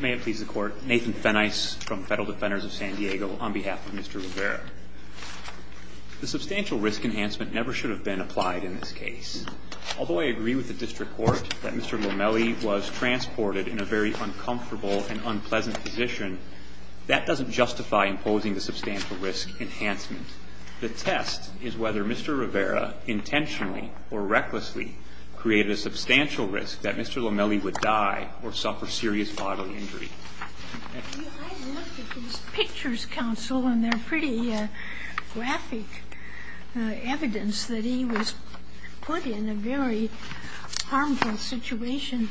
May it please the court, Nathan Fenice from Federal Defenders of San Diego on behalf of Mr. Rivera. The substantial risk enhancement never should have been applied in this case. Although I agree with the district court that Mr. Lomeli was transported in a very uncomfortable and unpleasant position, that doesn't justify imposing the substantial risk enhancement. The test is whether Mr. Rivera intentionally or recklessly created a substantial risk that Mr. Lomeli would die or suffer serious bodily injury. I looked at his pictures, counsel, and they're pretty graphic evidence that he was put in a very harmful situation.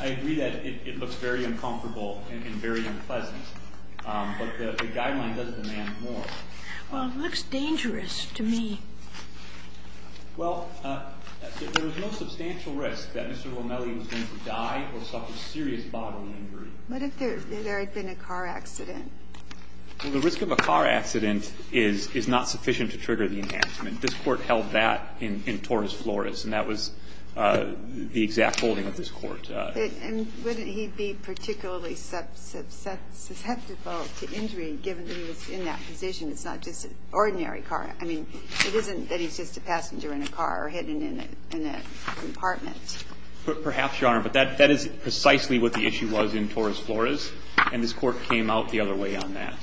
I agree that it looks very uncomfortable and very unpleasant. But the guideline does demand more. Well, it looks dangerous to me. Well, there was no substantial risk that Mr. Lomeli was going to die or suffer serious bodily injury. What if there had been a car accident? Well, the risk of a car accident is not sufficient to trigger the enhancement. This Court held that in torus floris, and that was the exact holding of this Court. And wouldn't he be particularly susceptible to injury given that he was in that position? It's not just an ordinary car. I mean, it isn't that he's just a passenger in a car or hidden in a compartment. Perhaps, Your Honor. But that is precisely what the issue was in torus floris. And this Court came out the other way on that.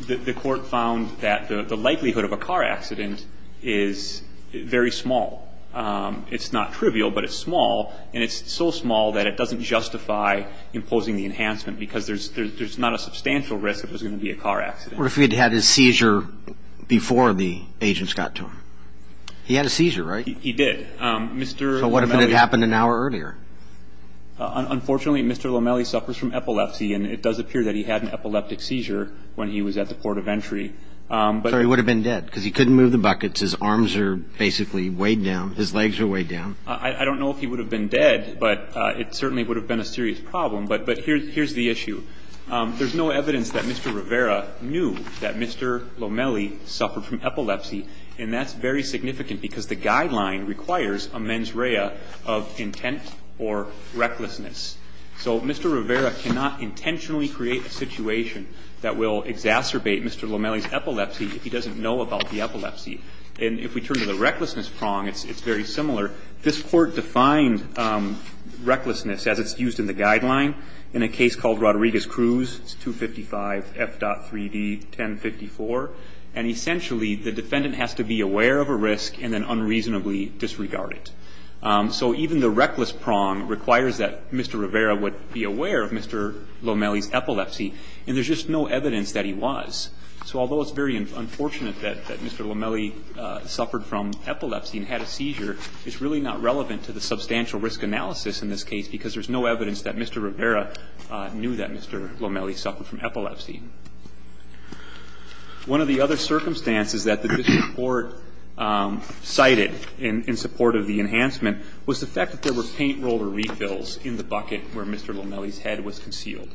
The Court found that the likelihood of a car accident is very small. It's not trivial, but it's small. And it's so small that it doesn't justify imposing the enhancement because there's not a substantial risk that there's going to be a car accident. And the reason the court found that there was no substantial risk to him was that And he had an epilepsy seizure? Yes. What if he had had his seizure before the agents got to him? He had a seizure, right? He did. Mr. Lomeli. So what if it had happened an hour earlier? Unfortunately, Mr. Lomeli suffers from epilepsy, and it does appear that he had an epileptic seizure when he was at the port of entry. So he would have been dead? Because he couldn't move the buckets, his arms are basically weighed down, his legs are weighed down. I don't know if he would have been dead, but it certainly would have been a serious problem. But here's the issue. There's no evidence that Mr. Rivera knew that Mr. Lomeli suffered from epilepsy, and that's very significant because the guideline requires a mens rea of intent or recklessness. So Mr. Rivera cannot intentionally create a situation that will exacerbate Mr. Lomeli's epilepsy if he doesn't know about the epilepsy. And if we turn to the recklessness prong, it's very similar. This Court defined recklessness as it's used in the guideline in a case called Rodriguez-Cruz. It's 255 F.3d 1054. And essentially, the defendant has to be aware of a risk and then unreasonably disregard it. So even the reckless prong requires that Mr. Rivera would be aware of Mr. Lomeli's epilepsy, and there's just no evidence that he was. So although it's very unfortunate that Mr. Lomeli suffered from epilepsy and had a seizure, it's really not relevant to the substantial risk analysis in this case because there's no evidence that Mr. Rivera knew that Mr. Lomeli suffered from epilepsy. One of the other circumstances that the district court cited in support of the enhancement was the fact that there were paint roller refills in the bucket where Mr. Lomeli's head was concealed.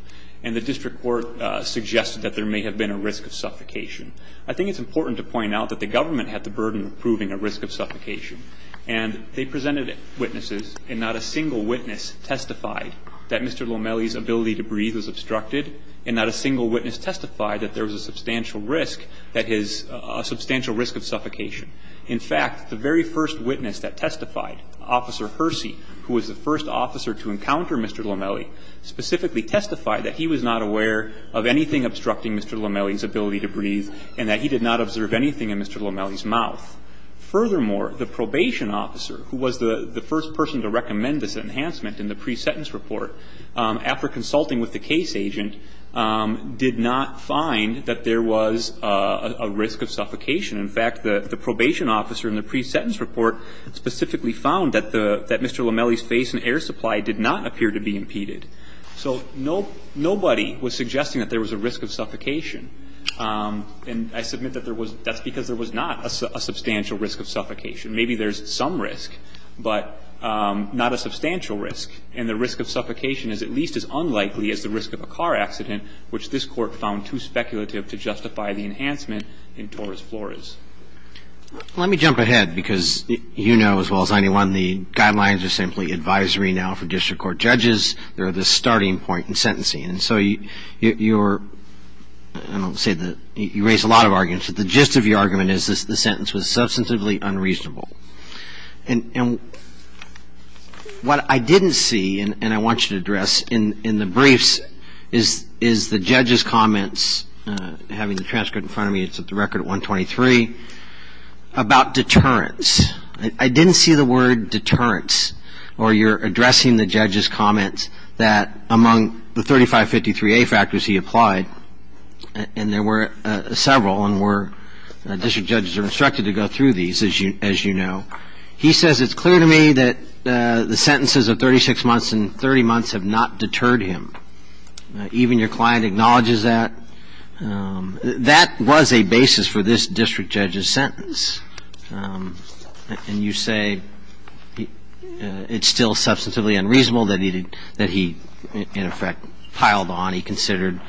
And the district court suggested that there may have been a risk of suffocation. I think it's important to point out that the government had the burden of proving a risk of suffocation. And they presented witnesses, and not a single witness testified that Mr. Lomeli's ability to breathe was obstructed, and not a single witness testified that there was a substantial risk of suffocation. In fact, the very first witness that testified, Officer Hersey, who was the first officer to encounter Mr. Lomeli, specifically testified that he was not aware of anything obstructing Mr. Lomeli's ability to breathe and that he did not observe anything in Mr. Lomeli's mouth. Furthermore, the probation officer, who was the first person to recommend this enhancement in the pre-sentence report, after consulting with the case agent, did not find that there was a risk of suffocation. In fact, the probation officer in the pre-sentence report specifically found that Mr. Lomeli's ability to breathe and his ability to breathe in the air supply did not appear to be impeded. So nobody was suggesting that there was a risk of suffocation. And I submit that there was — that's because there was not a substantial risk of suffocation. Maybe there's some risk, but not a substantial risk. And the risk of suffocation is at least as unlikely as the risk of a car accident, which this Court found too speculative to justify the enhancement in torus floris. Let me jump ahead, because you know as well as anyone the guidelines are simply advisory now for district court judges. They're the starting point in sentencing. And so you're — I don't want to say that you raise a lot of arguments, but the gist of your argument is that the sentence was substantively unreasonable. And what I didn't see, and I want you to address in the briefs, is the judge's comments, having the transcript in front of me, it's at the record at 123, about deterrence. I didn't see the word deterrence, or your addressing the judge's comments, that among the 3553A factors he applied, and there were several, and district judges are instructed to go through these, as you know. He says it's clear to me that the sentences of 36 months and 30 months have not deterred him. Even your client acknowledges that. That was a basis for this district judge's sentence. And you say it's still substantively unreasonable that he, in effect, piled on. He considered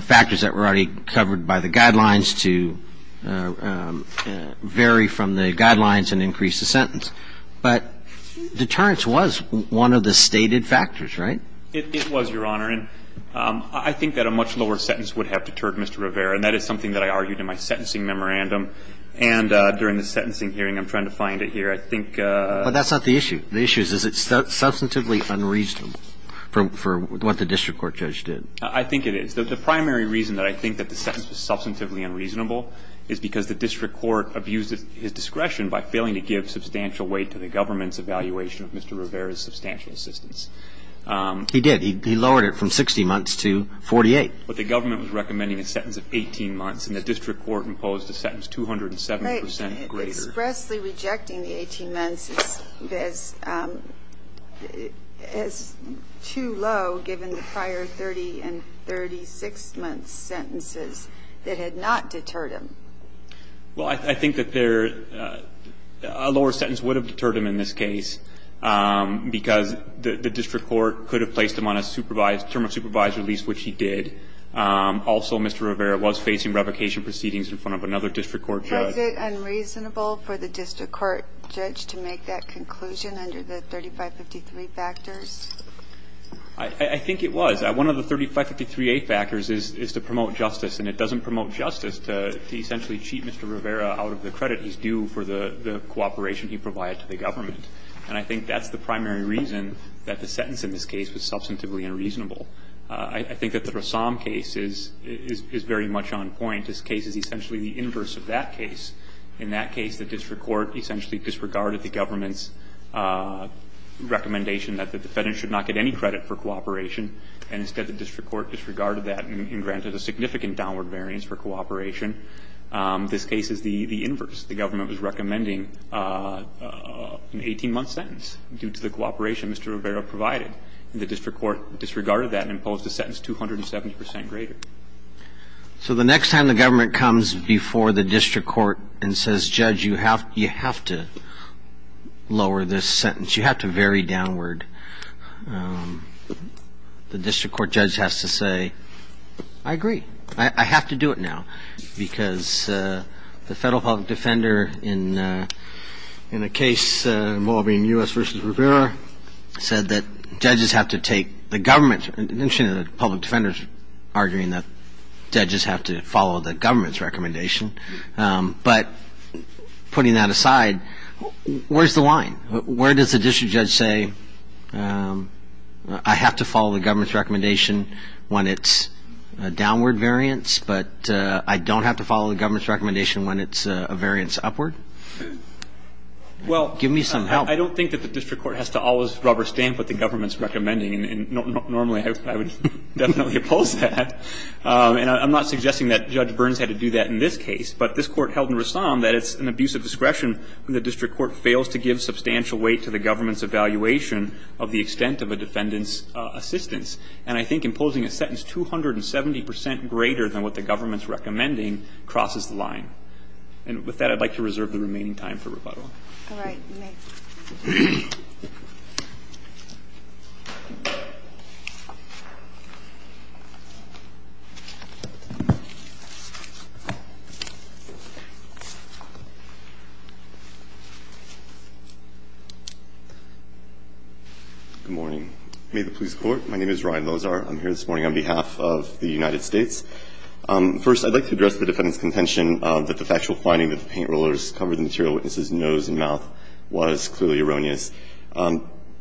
factors that were already covered by the guidelines to vary from the guidelines and increase the sentence. But deterrence was one of the stated factors, right? It was, Your Honor. And I think that a much lower sentence would have deterred Mr. Rivera, and that is something that I argued in my sentencing memorandum. And during the sentencing hearing, I'm trying to find it here. I think ---- But that's not the issue. The issue is, is it substantively unreasonable for what the district court judge did? I think it is. The primary reason that I think that the sentence was substantively unreasonable is because the district court abused his discretion by failing to give substantial weight to the government's evaluation of Mr. Rivera's substantial assistance. He did. He lowered it from 60 months to 48. But the government was recommending a sentence of 18 months, and the district court imposed a sentence 207 percent greater. Expressly rejecting the 18 months is too low, given the prior 30 and 36-month sentences that had not deterred him. Well, I think that there ---- A lower sentence would have deterred him in this case because the district court could have placed him on a supervised ---- term of supervised release, which he did. Also, Mr. Rivera was facing revocation proceedings in front of another district court judge. Was it unreasonable for the district court judge to make that conclusion under the 3553 factors? I think it was. One of the 3553A factors is to promote justice, and it doesn't promote justice to essentially cheat Mr. Rivera out of the credit he's due for the cooperation he provided to the government. And I think that's the primary reason that the sentence in this case was substantively unreasonable. I think that the Rassam case is very much on point. This case is essentially the inverse of that case. In that case, the district court essentially disregarded the government's recommendation that the defendant should not get any credit for cooperation, and instead the district court disregarded that and granted a significant downward variance for cooperation. This case is the inverse. The government was recommending an 18-month sentence due to the cooperation Mr. Rivera provided. The district court disregarded that and imposed a sentence 270 percent greater. So the next time the government comes before the district court and says, Judge, you have to lower this sentence, you have to vary downward, the district court judge has to say, I agree. I have to do it now because the federal public defender in the case involving U.S. v. Rivera said that judges have to take the government's – the public defender is arguing that judges have to follow the government's recommendation. But putting that aside, where's the line? Where does the district judge say, I have to follow the government's downward variance, but I don't have to follow the government's recommendation when it's a variance upward? Give me some help. Well, I don't think that the district court has to always rubber stamp what the government's recommending, and normally I would definitely oppose that. And I'm not suggesting that Judge Burns had to do that in this case, but this court held in Rassam that it's an abuse of discretion when the district court fails to give substantial weight to the government's evaluation of the extent of a defendant's assistance. And I think imposing a sentence 270 percent greater than what the government's recommending crosses the line. And with that, I'd like to reserve the remaining time for rebuttal. All right. Good morning. May the police court. My name is Ryan Lozar. I'm here this morning on behalf of the United States. First, I'd like to address the defendant's contention that the factual finding that the paint rollers covered the material witness's nose and mouth was clearly erroneous.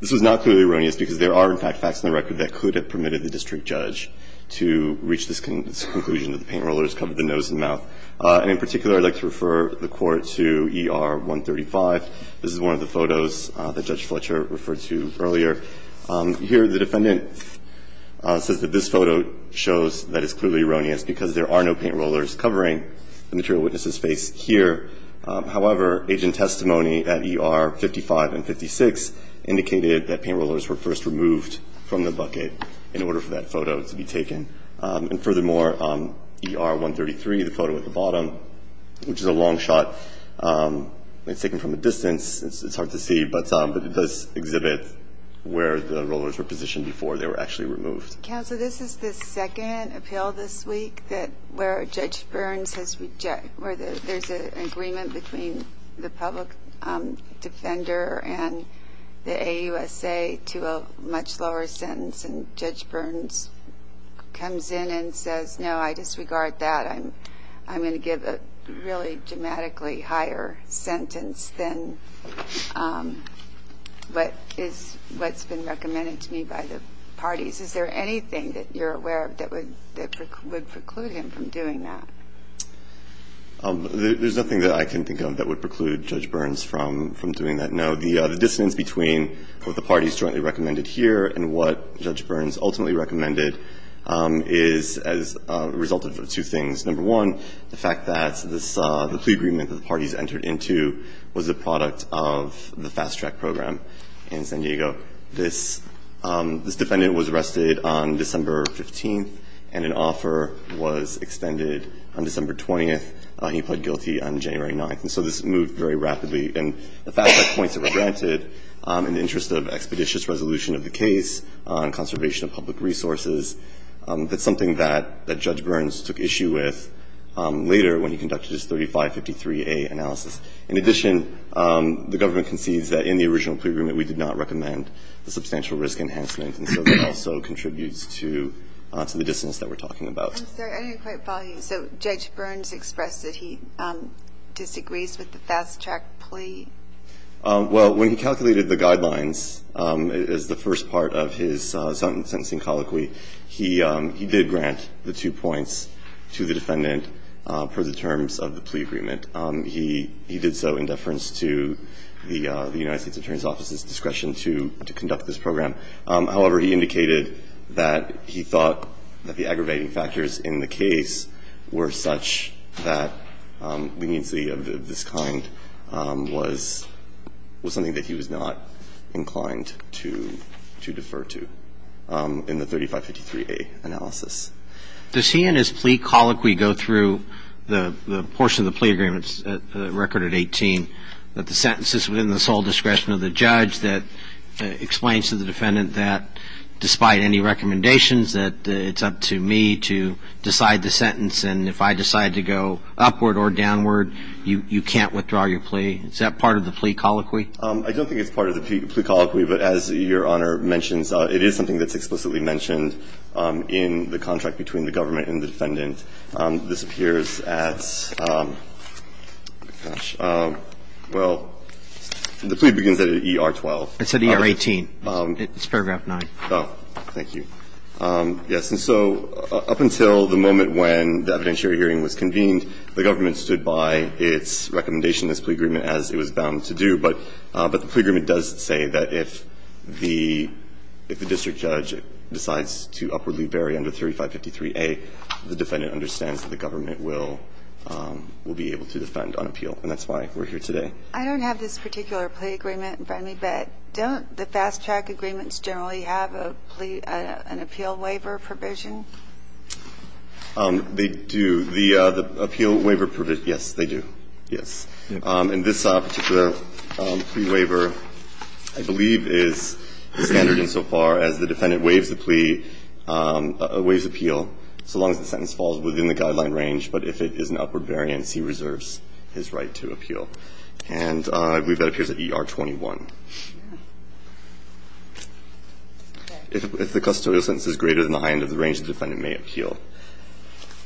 This was not clearly erroneous because there are, in fact, facts in the record that could have permitted the district judge to reach this conclusion that the paint rollers covered the nose and mouth. And in particular, I'd like to refer the Court to ER 135. This is one of the photos that Judge Fletcher referred to earlier. Here, the defendant says that this photo shows that it's clearly erroneous because there are no paint rollers covering the material witness's face here. However, agent testimony at ER 55 and 56 indicated that paint rollers were first removed from the bucket in order for that photo to be taken. And furthermore, ER 133, the photo at the bottom, which is a long shot, it's taken from a distance. It's hard to see, but it does exhibit where the rollers were positioned before they were actually removed. Counsel, this is the second appeal this week where Judge Burns has rejected where there's an agreement between the public defender and the AUSA to a much lower sentence. And Judge Burns comes in and says, no, I disregard that. I'm going to give a really dramatically higher sentence than what is what's been recommended to me by the parties. Is there anything that you're aware of that would preclude him from doing that? There's nothing that I can think of that would preclude Judge Burns from doing that, no. The dissonance between what the parties jointly recommended here and what Judge Burns recommended is two things. Number one, the fact that the plea agreement that the parties entered into was the product of the fast track program in San Diego. This defendant was arrested on December 15th, and an offer was extended on December 20th. He pled guilty on January 9th. And so this moved very rapidly. And the fast track points that were granted in the interest of expeditious resolution of the case on conservation of public resources. That's something that Judge Burns took issue with later when he conducted his 3553A analysis. In addition, the government concedes that in the original plea agreement we did not recommend the substantial risk enhancement. And so that also contributes to the dissonance that we're talking about. I'm sorry. I didn't quite follow you. So Judge Burns expressed that he disagrees with the fast track plea? Well, when he calculated the guidelines as the first part of his sentencing colloquy, he did grant the two points to the defendant per the terms of the plea agreement. He did so in deference to the United States Attorney's Office's discretion to conduct this program. However, he indicated that he thought that the aggravating factors in the case were such that leniency of this kind was something that he was not inclined to defer in the 3553A analysis. Does he and his plea colloquy go through the portion of the plea agreement's record at 18 that the sentence is within the sole discretion of the judge that explains to the defendant that despite any recommendations that it's up to me to decide the sentence and if I decide to go upward or downward, you can't withdraw your plea? Is that part of the plea colloquy? I don't think it's part of the plea colloquy. But as Your Honor mentions, it is something that's explicitly mentioned in the contract between the government and the defendant. This appears at, gosh, well, the plea begins at ER 12. It's at ER 18. It's paragraph 9. Oh, thank you. Yes. And so up until the moment when the evidentiary hearing was convened, the government stood by its recommendation, this plea agreement, as it was bound to do. But the plea agreement does say that if the district judge decides to upwardly vary under 3553A, the defendant understands that the government will be able to defend on appeal. And that's why we're here today. I don't have this particular plea agreement in front of me, but don't the fast track agreements generally have an appeal waiver provision? They do. The appeal waiver provision, yes, they do. Yes. And this particular plea waiver, I believe, is standard insofar as the defendant waives the plea, waives appeal, so long as the sentence falls within the guideline range. But if it is an upward variance, he reserves his right to appeal. And I believe that appears at ER 21. If the custodial sentence is greater than the high end of the range, the defendant may appeal.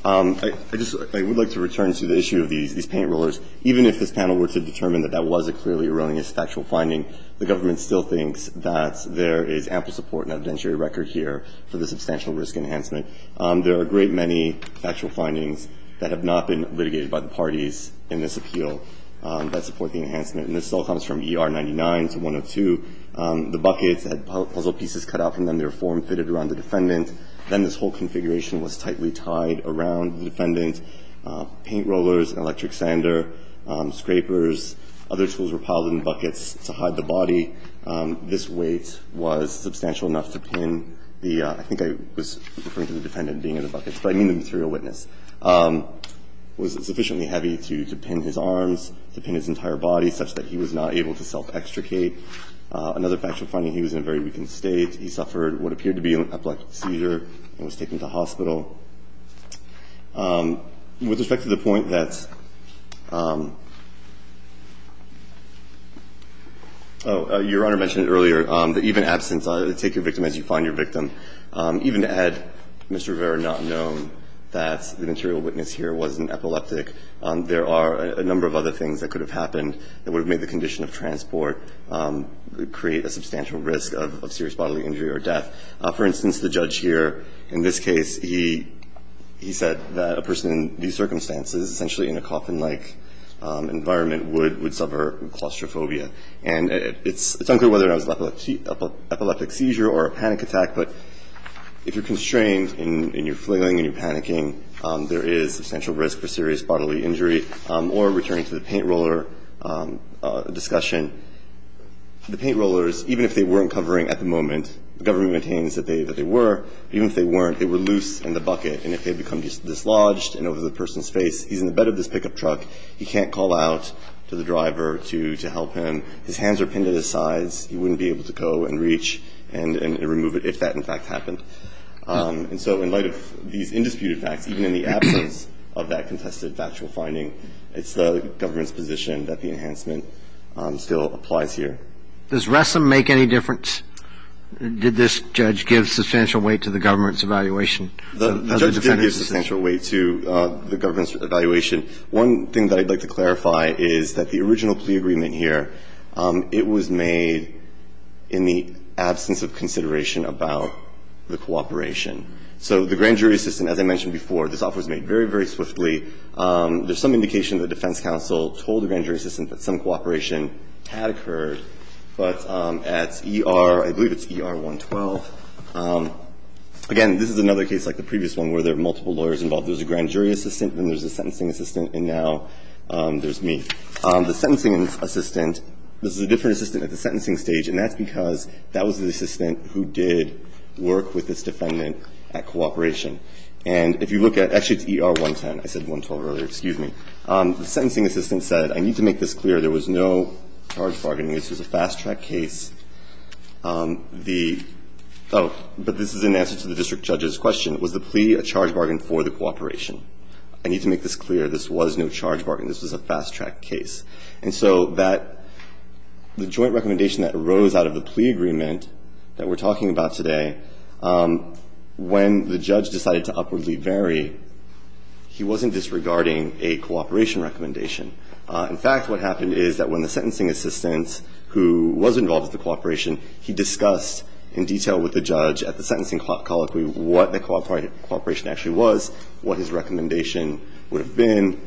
I would like to return to the issue of these paint rollers. Even if this panel were to determine that that was a clearly erroneous factual finding, the government still thinks that there is ample support and evidentiary record here for the substantial risk enhancement. There are a great many factual findings that have not been litigated by the parties in this appeal that support the enhancement. And this all comes from ER 99 to 102. The buckets had puzzle pieces cut out from them. They were form-fitted around the defendant. Then this whole configuration was tightly tied around the defendant. Paint rollers, electric sander, scrapers, other tools were piled in buckets to hide the body. This weight was substantial enough to pin the – I think I was referring to the defendant being in the buckets, but I mean the material witness – was sufficiently heavy to pin his arms, to pin his entire body, such that he was not able to self-extricate. Another factual finding, he was in a very weakened state. He suffered what appeared to be an epileptic seizure and was taken to hospital. With respect to the point that – oh, Your Honor mentioned it earlier, that even absence, take your victim as you find your victim, even to add Mr. Rivera not known that the material witness here was an epileptic, there are a number of other things that could have happened that would have made the condition of transport create a substantial risk of serious bodily injury or death. For instance, the judge here, in this case, he said that a person in these circumstances, essentially in a coffin-like environment, would suffer claustrophobia. And it's unclear whether that was an epileptic seizure or a panic attack, but if you're constrained and you're flailing and you're panicking, there is substantial risk for serious bodily injury. And so the government, in this case, continues to say that it's not a real And so there's a lot of discussion about whether or not the victim was able to self-extricate or, returning to the paint roller discussion, the paint rollers, even if they weren't covering at the moment, the government maintains that they were, even if they weren't, they were loose in the bucket. And if they become dislodged and over the person's face, he's in the bed of this pickup truck. He can't call out to the driver to help him. His hands are pinned at his sides. He wouldn't be able to go and reach and remove it if that, in fact, happened. And so in light of these indisputed facts, even in the absence of that contested factual finding, it's the government's position that the enhancement still applies here. Does Ressim make any difference? Did this judge give substantial weight to the government's evaluation? The judge did give substantial weight to the government's evaluation. One thing that I'd like to clarify is that the original plea agreement here, it was made in the absence of consideration about the cooperation. So the grand jury assistant, as I mentioned before, this offer was made very, very swiftly. There's some indication that the defense counsel told the grand jury assistant that some cooperation had occurred. But at ER, I believe it's ER 112, again, this is another case like the previous one where there are multiple lawyers involved. There's a grand jury assistant and there's a sentencing assistant and now there's a plea. The sentencing assistant, this is a different assistant at the sentencing stage and that's because that was the assistant who did work with this defendant at cooperation. And if you look at, actually it's ER 110, I said 112 earlier, excuse me. The sentencing assistant said, I need to make this clear, there was no charge bargaining. This was a fast-track case. The, oh, but this is in answer to the district judge's question. Was the plea a charge bargain for the cooperation? I need to make this clear. This was no charge bargain. This was a fast-track case. And so that, the joint recommendation that arose out of the plea agreement that we're talking about today, when the judge decided to upwardly vary, he wasn't disregarding a cooperation recommendation. In fact, what happened is that when the sentencing assistant who was involved with the cooperation, he discussed in detail with the judge at the sentencing colloquy what the cooperation actually was, what his recommendation would have been,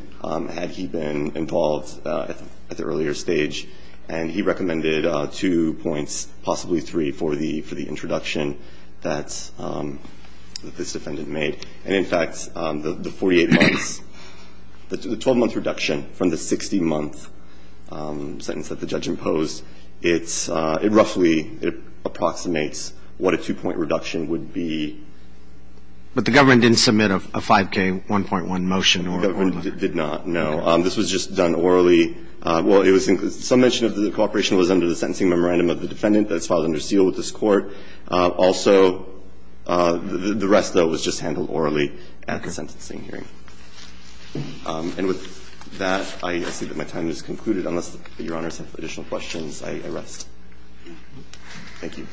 had he been involved at the earlier stage. And he recommended two points, possibly three, for the introduction that this defendant made. And in fact, the 48 months, the 12-month reduction from the 60-month sentence that the judge imposed, it's, it roughly, it approximates what a two-point reduction would be. But the government didn't submit a 5k, 1.1 motion or order? The government did not, no. This was just done orally. Well, it was, some mention of the cooperation was under the sentencing memorandum of the defendant. That's filed under seal with this Court. Also, the rest, though, was just handled orally at the sentencing hearing. And with that, I see that my time has concluded. Unless Your Honors have additional questions, I rest. Thank you.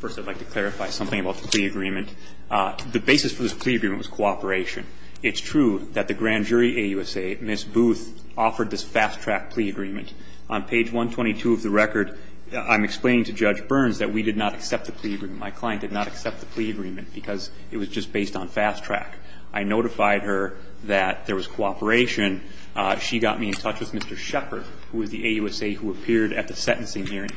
First, I'd like to clarify something about the plea agreement. The basis for this plea agreement was cooperation. It's true that the grand jury, AUSA, Ms. Booth, offered this fast-track plea agreement. On page 122 of the record, I'm explaining to Judge Burns that we did not accept the plea agreement. My client did not accept the plea agreement because it was just based on fast track. I notified her that there was cooperation. She got me in touch with Mr. Shepard, who was the AUSA who appeared at the sentencing hearing.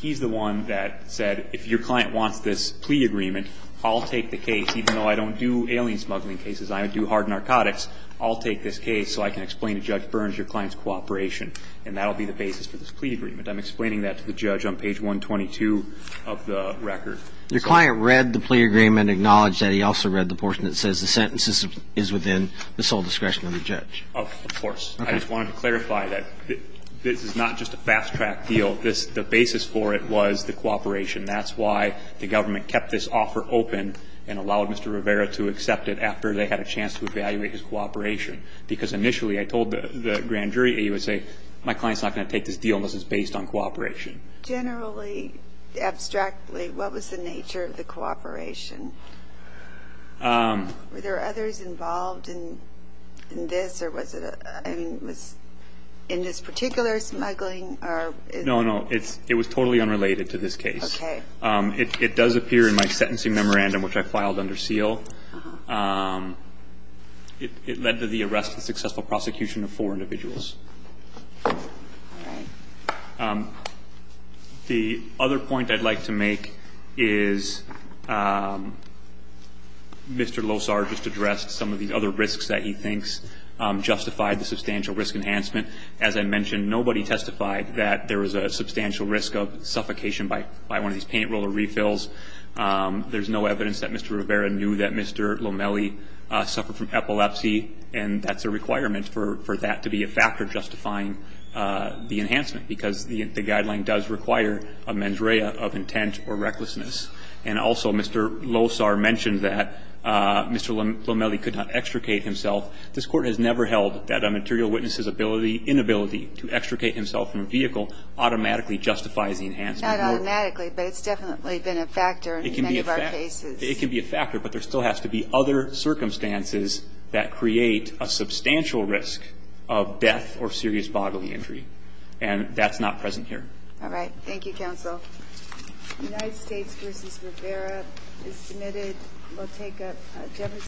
He's the one that said, if your client wants this plea agreement, I'll take the case. Even though I don't do alien smuggling cases, I do hard narcotics, I'll take this case so I can explain to Judge Burns your client's cooperation. And that will be the basis for this plea agreement. I'm explaining that to the judge on page 122 of the record. Your client read the plea agreement, acknowledged that he also read the portion that says the sentence is within the sole discretion of the judge. Of course. I just wanted to clarify that this is not just a fast-track deal. The basis for it was the cooperation. That's why the government kept this offer open and allowed Mr. Rivera to accept it after they had a chance to evaluate his cooperation. Because initially I told the grand jury, AUSA, my client's not going to take this deal unless it's based on cooperation. Generally, abstractly, what was the nature of the cooperation? Were there others involved in this? Or was it in this particular smuggling? No, no. It was totally unrelated to this case. Okay. It does appear in my sentencing memorandum, which I filed under seal. Uh-huh. It led to the arrest and successful prosecution of four individuals. All right. The other point I'd like to make is Mr. Losar just addressed some of the other risks that he thinks justified the substantial risk enhancement. As I mentioned, nobody testified that there was a substantial risk of suffocation by one of these paint roller refills. There's no evidence that Mr. Rivera knew that Mr. Lomeli suffered from epilepsy, and that's a requirement for that to be a factor justifying the enhancement, because the guideline does require a mens rea of intent or recklessness. And also Mr. Losar mentioned that Mr. Lomeli could not extricate himself. This Court has never held that a material witness's ability, inability to extricate himself from a vehicle automatically justifies the enhancement. Not automatically, but it's definitely been a factor in many of our cases. It can be a factor, but there still has to be other circumstances that create a substantial risk of death or serious bodily injury, and that's not present here. All right. Thank you, Counsel. United States v. Rivera is submitted. We'll take Jefferson.